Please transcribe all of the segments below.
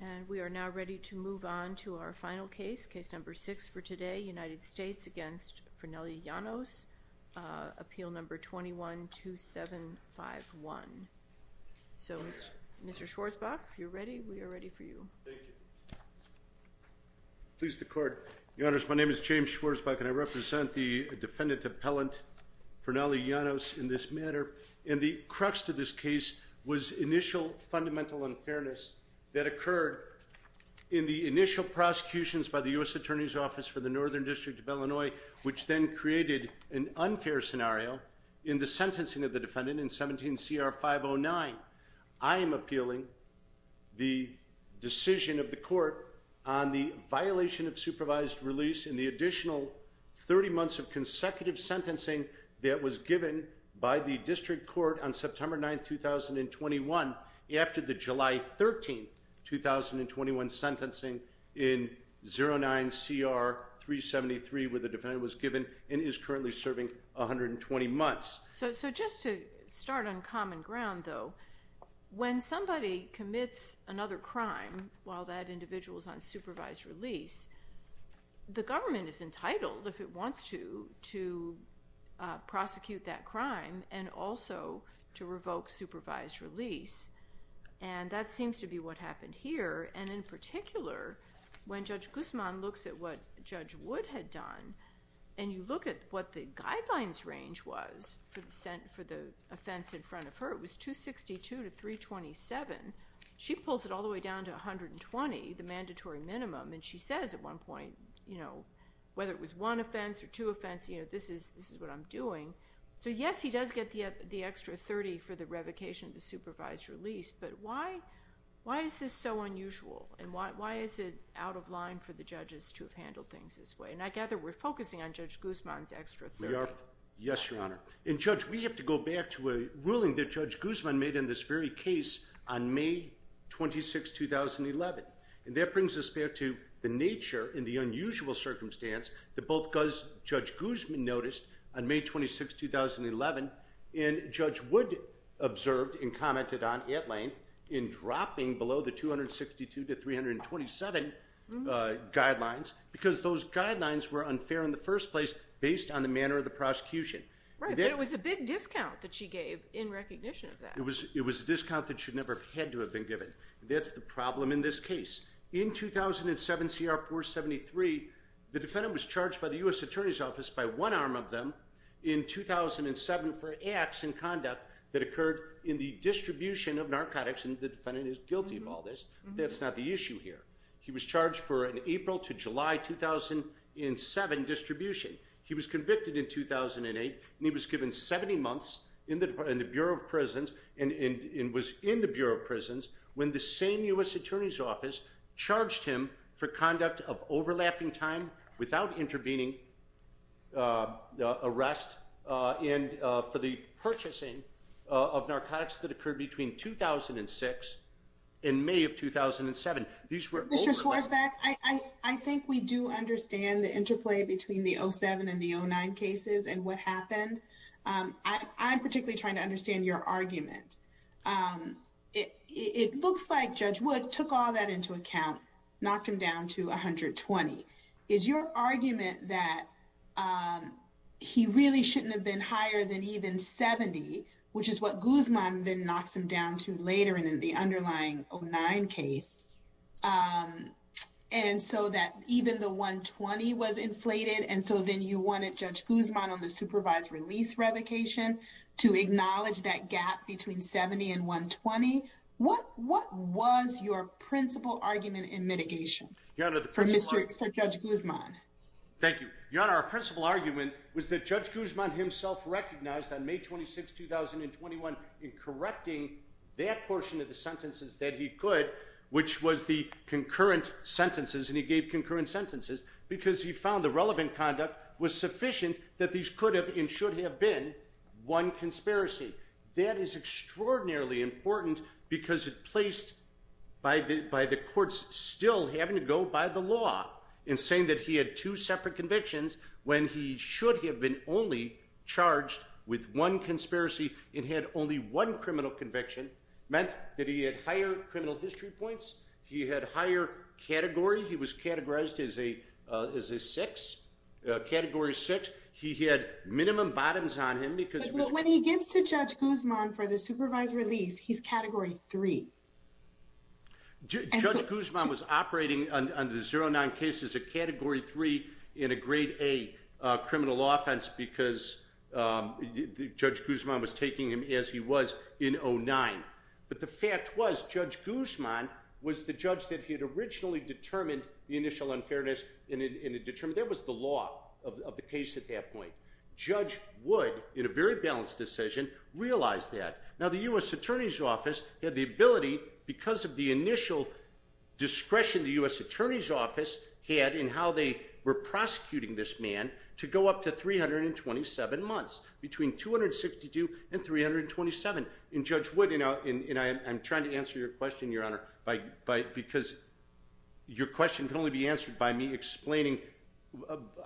and we are now ready to move on to our final case, case number six for today United States against Fernelly Llanos, appeal number 21-2751. So Mr. Schwarzbach, if you're ready, we are ready for you. Please the court. Your Honors, my name is James Schwarzbach and I represent the defendant appellant Fernelly Llanos in this matter and the crux to this case was initial fundamental unfairness that occurred in the initial prosecutions by the US Attorney's Office for the Northern District of Illinois which then created an unfair scenario in the sentencing of the defendant in 17 CR 509. I am appealing the decision of the court on the violation of supervised release in the additional 30 months of consecutive sentencing that was given by the district court on September 9, 2021 after the July 13, 2021 sentencing in 09 CR 373 where the defendant was given and is currently serving 120 months. So just to start on common ground though, when somebody commits another crime while that individuals on supervised release, the government is entitled if it wants to to prosecute that crime and also to revoke supervised release and that seems to be what happened here and in particular when Judge Guzman looks at what Judge Wood had done and you look at what the guidelines range was for the sent for the offense in front of her it was 262 to 327. She pulls it all the way on to 120 the mandatory minimum and she says at one point you know whether it was one offense or two offense you know this is this is what I'm doing so yes he does get the the extra 30 for the revocation of the supervised release but why why is this so unusual and why is it out of line for the judges to have handled things this way and I gather we're focusing on Judge Guzman's extra 30. Yes your honor and judge we have to go back to a ruling that Judge Guzman made in this very case on May 26 2011 and that brings us back to the nature in the unusual circumstance that both Judge Guzman noticed on May 26 2011 and Judge Wood observed and commented on at length in dropping below the 262 to 327 guidelines because those guidelines were unfair in the first place based on the manner of the prosecution. It was a big discount that she gave in it was a discount that should never have had to have been given. That's the problem in this case. In 2007 CR 473 the defendant was charged by the US Attorney's Office by one arm of them in 2007 for acts and conduct that occurred in the distribution of narcotics and the defendant is guilty of all this. That's not the issue here. He was charged for an April to July 2007 distribution. He was convicted in 2008 and he was given 70 months in the Bureau of Prisons and was in the Bureau of Prisons when the same US Attorney's Office charged him for conduct of overlapping time without intervening arrest and for the purchasing of narcotics that occurred between 2006 and May of 2007. Mr. Schwartzbeck, I think we do understand the interplay between the 07 and the 09 cases and what happened. I'm particularly trying to understand your argument. It looks like Judge Wood took all that into account knocked him down to 120. Is your argument that he really shouldn't have been higher than even 70 which is what Guzman then knocks him down to later in the underlying 09 case and so that even the 120 was inflated and so then you wanted Judge Guzman on the supervised release revocation to acknowledge that gap between 70 and 120. What what was your principal argument in mitigation for Mr. Judge Guzman? Thank you. Your Honor, our principal argument was that Judge Guzman himself recognized on May 26, 2021 in correcting that portion of the sentences that he could which was the concurrent sentences and he gave the relevant conduct was sufficient that these could have and should have been one conspiracy. That is extraordinarily important because it placed by the by the courts still having to go by the law in saying that he had two separate convictions when he should have been only charged with one conspiracy and had only one criminal conviction meant that he had higher criminal history points, he had higher category, he was categorized as a six, category six, he had minimum bottoms on him because when he gets to Judge Guzman for the supervised release he's category three. Judge Guzman was operating on the 09 cases a category three in a grade A criminal offense because Judge Guzman was taking him as he was in 09 but the fact was Judge Guzman was the judge that he had originally determined the initial unfairness in a determined there was the law of the case at that point. Judge Wood in a very balanced decision realized that. Now the U.S. Attorney's Office had the ability because of the initial discretion the U.S. Attorney's Office had in how they were prosecuting this man to go up to 327 months between 262 and 327 and Judge Wood you know and I'm trying to answer your question your honor by because your question can only be answered by me explaining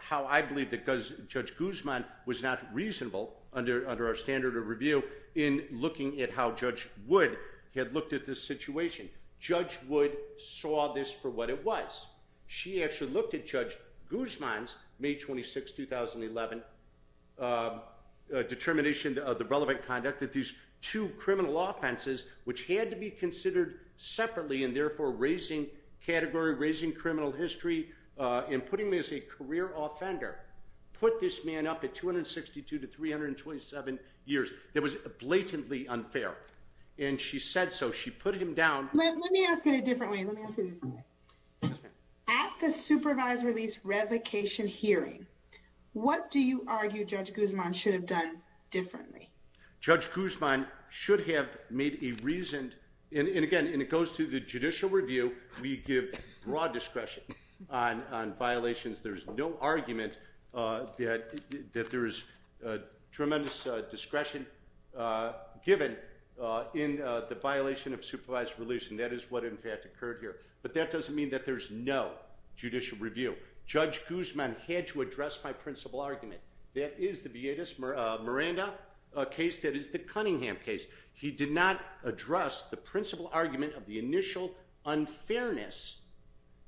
how I believe that Judge Guzman was not reasonable under our standard of review in looking at how Judge Wood had looked at this situation. Judge Wood saw this for what it was. She actually looked at Judge Guzman's May 26, 2011 determination of the relevant conduct that these two criminal offenses which had to be considered separately and therefore raising category, raising criminal history and putting this as a career offender put this man up at 262 to 327 years. It was blatantly unfair and she said so. She put him down. Let me ask it a different way. At the supervised release revocation hearing what do you argue Judge Guzman should have done differently? Judge Guzman should have made a reasoned and again it goes to the judicial review we give broad discretion on violations. There's no argument that there is tremendous discretion given in the violation of supervised release and that is what in fact occurred here but that doesn't mean that there's no judicial review. Judge Guzman had to address my principal argument. That is the Vietas Miranda case that is the Cunningham case. He did not address the principal argument of the initial unfairness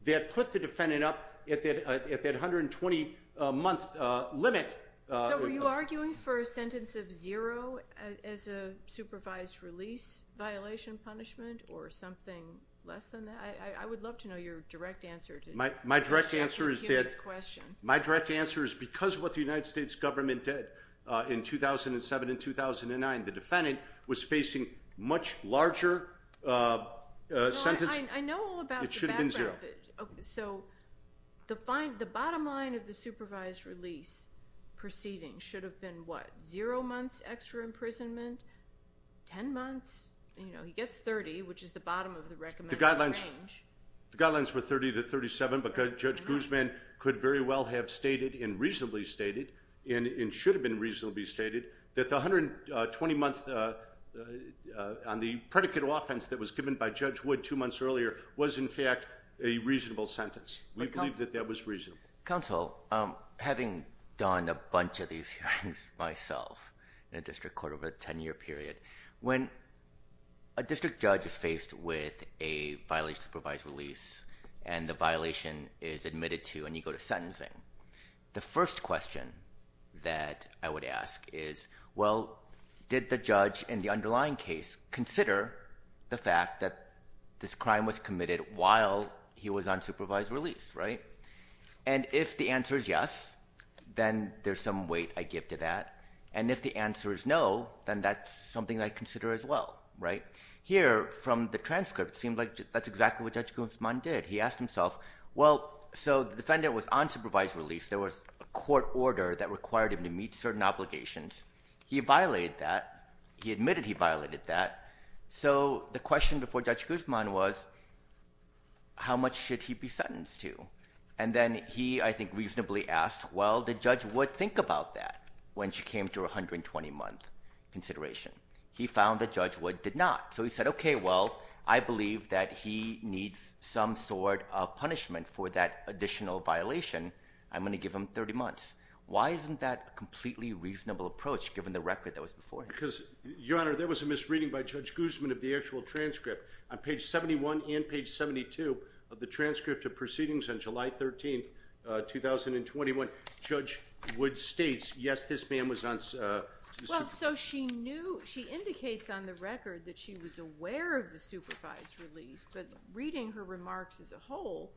that put the defendant up at that 120 month limit. So were you arguing for a sentence of zero as a supervised release violation punishment or something less than that? I would love to know your direct answer to this question. My direct answer is because of what the United States government did in 2007 and 2009. The defendant was facing much larger sentence. I know all about the background. It should have been zero. So the bottom line of the supervised release proceeding should have been what? Zero months extra imprisonment? Ten months? You know he gets 30 which is the bottom of the recommended range. The guidelines were 30 to 37 but Judge Guzman could very well have stated and reasonably stated and should have been reasonably stated that the 120 months on the predicate of offense that was given by Judge Wood two months earlier was in fact a reasonable sentence. We believe that that was reasonable. Counsel, having done a bunch of these hearings myself in a district court over a ten-year period, when a district judge is faced with a violation of supervised release and the question that I would ask is well did the judge in the underlying case consider the fact that this crime was committed while he was on supervised release, right? And if the answer is yes then there's some weight I give to that and if the answer is no then that's something I consider as well, right? Here from the transcript seems like that's exactly what Judge Guzman did. He asked himself well so the defendant was on supervised release. There was a court order that required him to meet certain obligations. He violated that. He admitted he violated that. So the question before Judge Guzman was how much should he be sentenced to? And then he I think reasonably asked well did Judge Wood think about that when she came to a 120 month consideration? He found that Judge Wood did not. So he said okay well I believe that he needs some sort of punishment for that additional violation. I'm going to give him 30 months. Why isn't that a completely reasonable approach given the record that was before him? Because your honor there was a misreading by Judge Guzman of the actual transcript. On page 71 and page 72 of the transcript of proceedings on July 13th 2021, Judge Wood states yes this man was on supervised release. So she knew, she had a record that she was aware of the supervised release but reading her remarks as a whole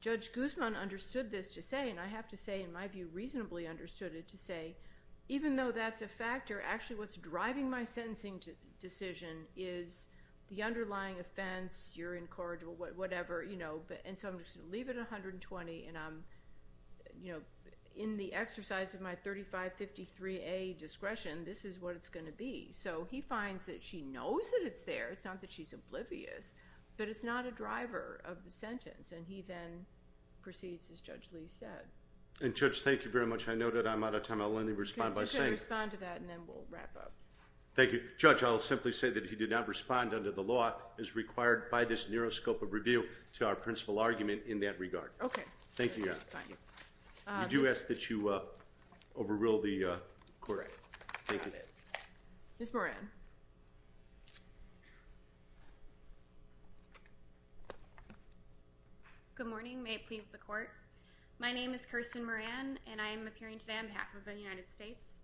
Judge Guzman understood this to say and I have to say in my view reasonably understood it to say even though that's a factor actually what's driving my sentencing to decision is the underlying offense you're incorrigible whatever you know but and so I'm just going to leave it 120 and I'm you know in the exercise of my 3553A discretion this is what it's going to be so he finds that she knows that it's there it's not that she's oblivious but it's not a driver of the sentence and he then proceeds as Judge Lee said. And Judge thank you very much I noted I'm out of time I'll only respond by saying. You can respond to that and then we'll wrap up. Thank you. Judge I'll simply say that he did not respond under the law as required by this Neuroscope of Review to our principal argument in that regard. Okay. Thank you. I do ask that you overrule the court. Ms. Moran. Good morning may it please the court. My name is Kirsten Moran and I am appearing today on behalf of the United States.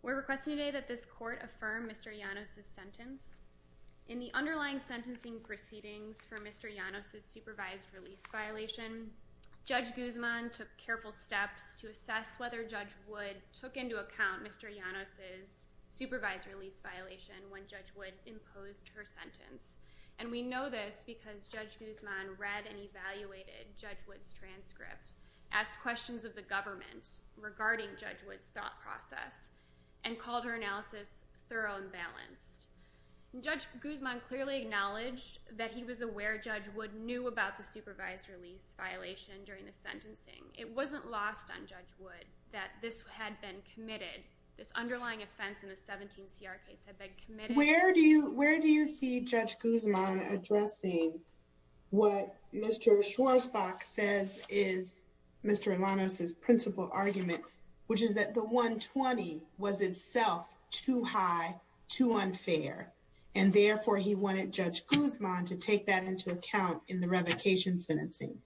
We're requesting today that this court affirm Mr. Llanos' sentence. In the underlying sentencing proceedings for Mr. Llanos' supervised release violation Judge Guzman took careful steps to take into account Mr. Llanos' supervised release violation when Judge Wood imposed her sentence. And we know this because Judge Guzman read and evaluated Judge Wood's transcript, asked questions of the government regarding Judge Wood's thought process, and called her analysis thorough and balanced. Judge Guzman clearly acknowledged that he was aware Judge Wood knew about the supervised release violation during the sentencing. It wasn't lost on Judge Wood that this had been committed. This underlying offense in the 17 CR case had been committed. Where do you where do you see Judge Guzman addressing what Mr. Schwarzbach says is Mr. Llanos' principal argument which is that the 120 was itself too high, too unfair, and therefore he wanted Judge Guzman to take that into account in the revocation sentencing.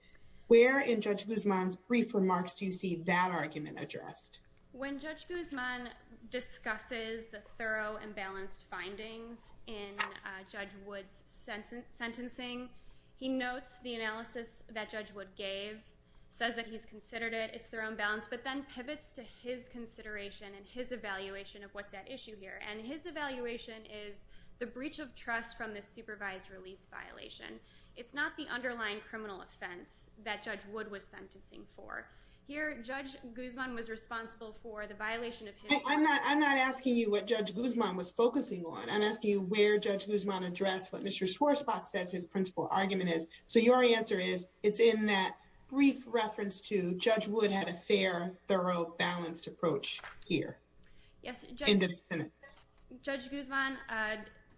Where in Judge Guzman's brief remarks do you see that argument addressed? When Judge Guzman discusses the thorough and balanced findings in Judge Wood's sentencing, he notes the analysis that Judge Wood gave, says that he's considered it, it's thorough and balanced, but then pivots to his consideration and his evaluation of what's at issue here. And his evaluation is the breach of trust from this supervised release violation. It's not the underlying criminal offense that Judge Guzman was responsible for the violation. I'm not I'm not asking you what Judge Guzman was focusing on. I'm asking you where Judge Guzman addressed what Mr. Schwarzbach says his principal argument is. So your answer is it's in that brief reference to Judge Wood had a fair, thorough, balanced approach here. Yes, Judge Guzman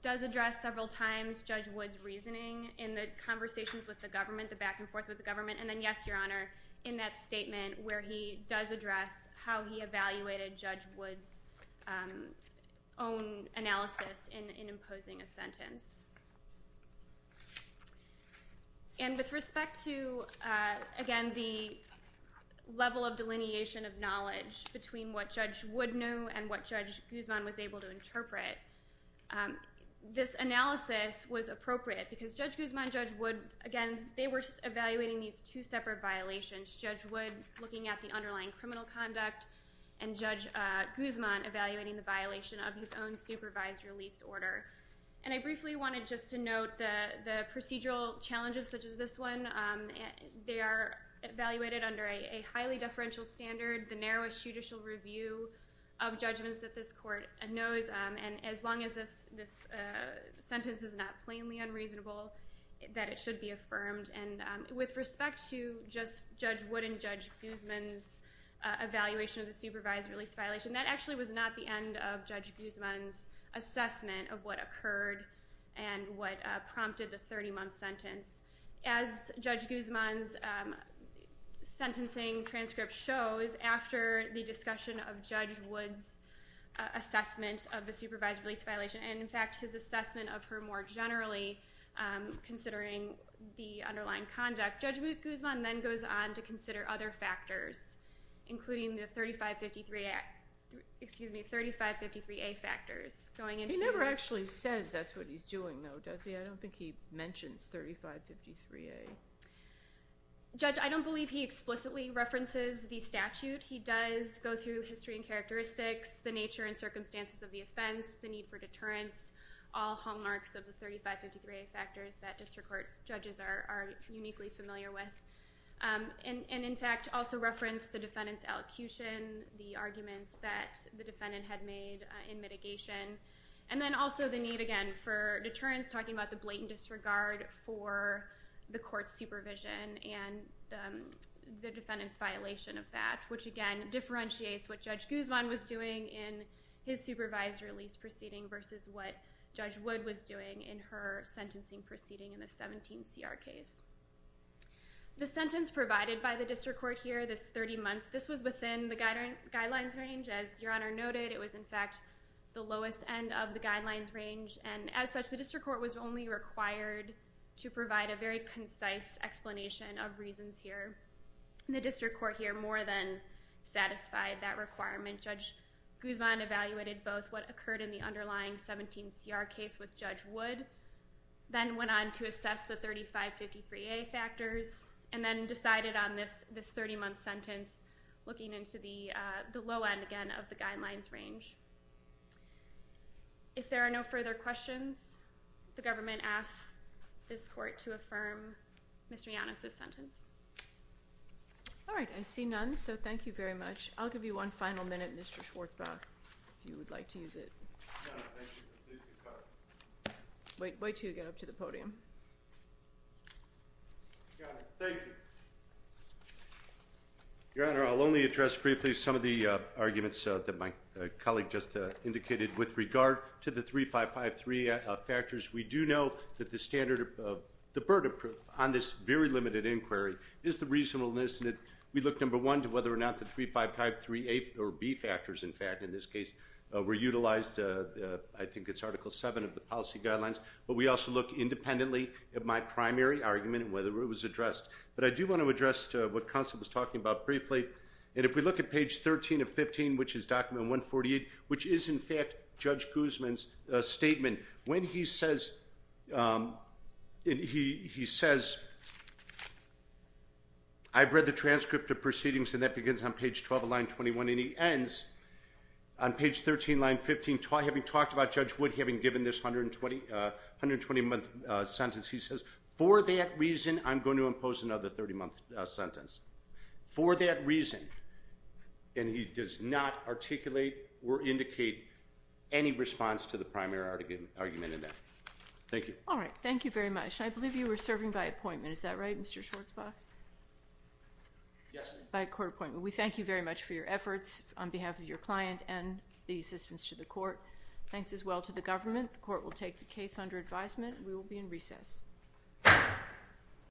does address several times Judge Wood's reasoning in the conversations with the government, the back-and-forth with the government, and where he does address how he evaluated Judge Wood's own analysis in imposing a sentence. And with respect to, again, the level of delineation of knowledge between what Judge Wood knew and what Judge Guzman was able to interpret, this analysis was appropriate because Judge Guzman and Judge Wood, again, they were evaluating these two separate violations, Judge Wood looking at the underlying criminal conduct and Judge Guzman evaluating the violation of his own supervised release order. And I briefly wanted just to note that the procedural challenges such as this one, they are evaluated under a highly deferential standard, the narrowest judicial review of judgments that this court knows, and as long as this sentence is not plainly unreasonable, that it should be affirmed. And with respect to just Judge Wood and Judge Guzman's evaluation of the supervised release violation, that actually was not the end of Judge Guzman's assessment of what occurred and what prompted the 30 month sentence. As Judge Guzman's sentencing transcript shows, after the discussion of Judge Wood's assessment of the supervised release violation, and in more generally, considering the underlying conduct, Judge Guzman then goes on to consider other factors, including the 3553A factors. He never actually says that's what he's doing though, does he? I don't think he mentions 3553A. Judge, I don't believe he explicitly references the statute. He does go through history and characteristics, the nature and circumstances of the offense, the need for deterrence, all hallmarks of the 3553A factors that district court judges are uniquely familiar with. And in fact, also reference the defendant's elocution, the arguments that the defendant had made in mitigation, and then also the need, again, for deterrence, talking about the blatant disregard for the court's supervision and the defendant's violation of that, which again, differentiates what Judge Guzman was doing in his supervised release proceeding versus what Judge Wood was doing in her sentencing proceeding in the 17CR case. The sentence provided by the district court here, this 30 months, this was within the guidelines range. As Your Honor noted, it was in fact the lowest end of the guidelines range, and as such, the district court was only required to provide a very concise explanation of reasons here. The district court here more than satisfied that requirement. Judge Guzman evaluated both what occurred in the underlying 17CR case with Judge Wood, then went on to assess the 3553A factors, and then decided on this 30 month sentence, looking into the low end, again, of the guidelines range. If there are no further questions, the government asks this court to affirm Mr. Yannas' sentence. All right, I see none, so thank you very much. I'll give you one final minute, Mr. Schwartzbach, if you would like to use it. Wait till you get up to the podium. Your Honor, I'll only address briefly some of the arguments that my colleague just indicated. With regard to the 3553A factors, we do know that the standard of the burden on this very limited inquiry is the reasonableness and that we look, number one, to whether or not the 3553A or B factors, in fact, in this case, were utilized. I think it's Article 7 of the policy guidelines, but we also look independently at my primary argument and whether it was addressed. But I do want to address what counsel was talking about briefly, and if we look at page 13 of 15, which is document 148, which is in fact Judge Guzman's statement, when he says, he says, I've read the transcript of proceedings, and that begins on page 12 of line 21, and he ends on page 13, line 15, having talked about Judge Wood having given this 120-month sentence, he says, for that reason, I'm going to impose another 30-month sentence. For that response to the primary argument in that. Thank you. All right, thank you very much. I believe you were serving by appointment, is that right, Mr. Schwartzbach? Yes. By court appointment. We thank you very much for your efforts on behalf of your client and the assistance to the court. Thanks as well to the government. The court will take the case under advisement. We will be in recess.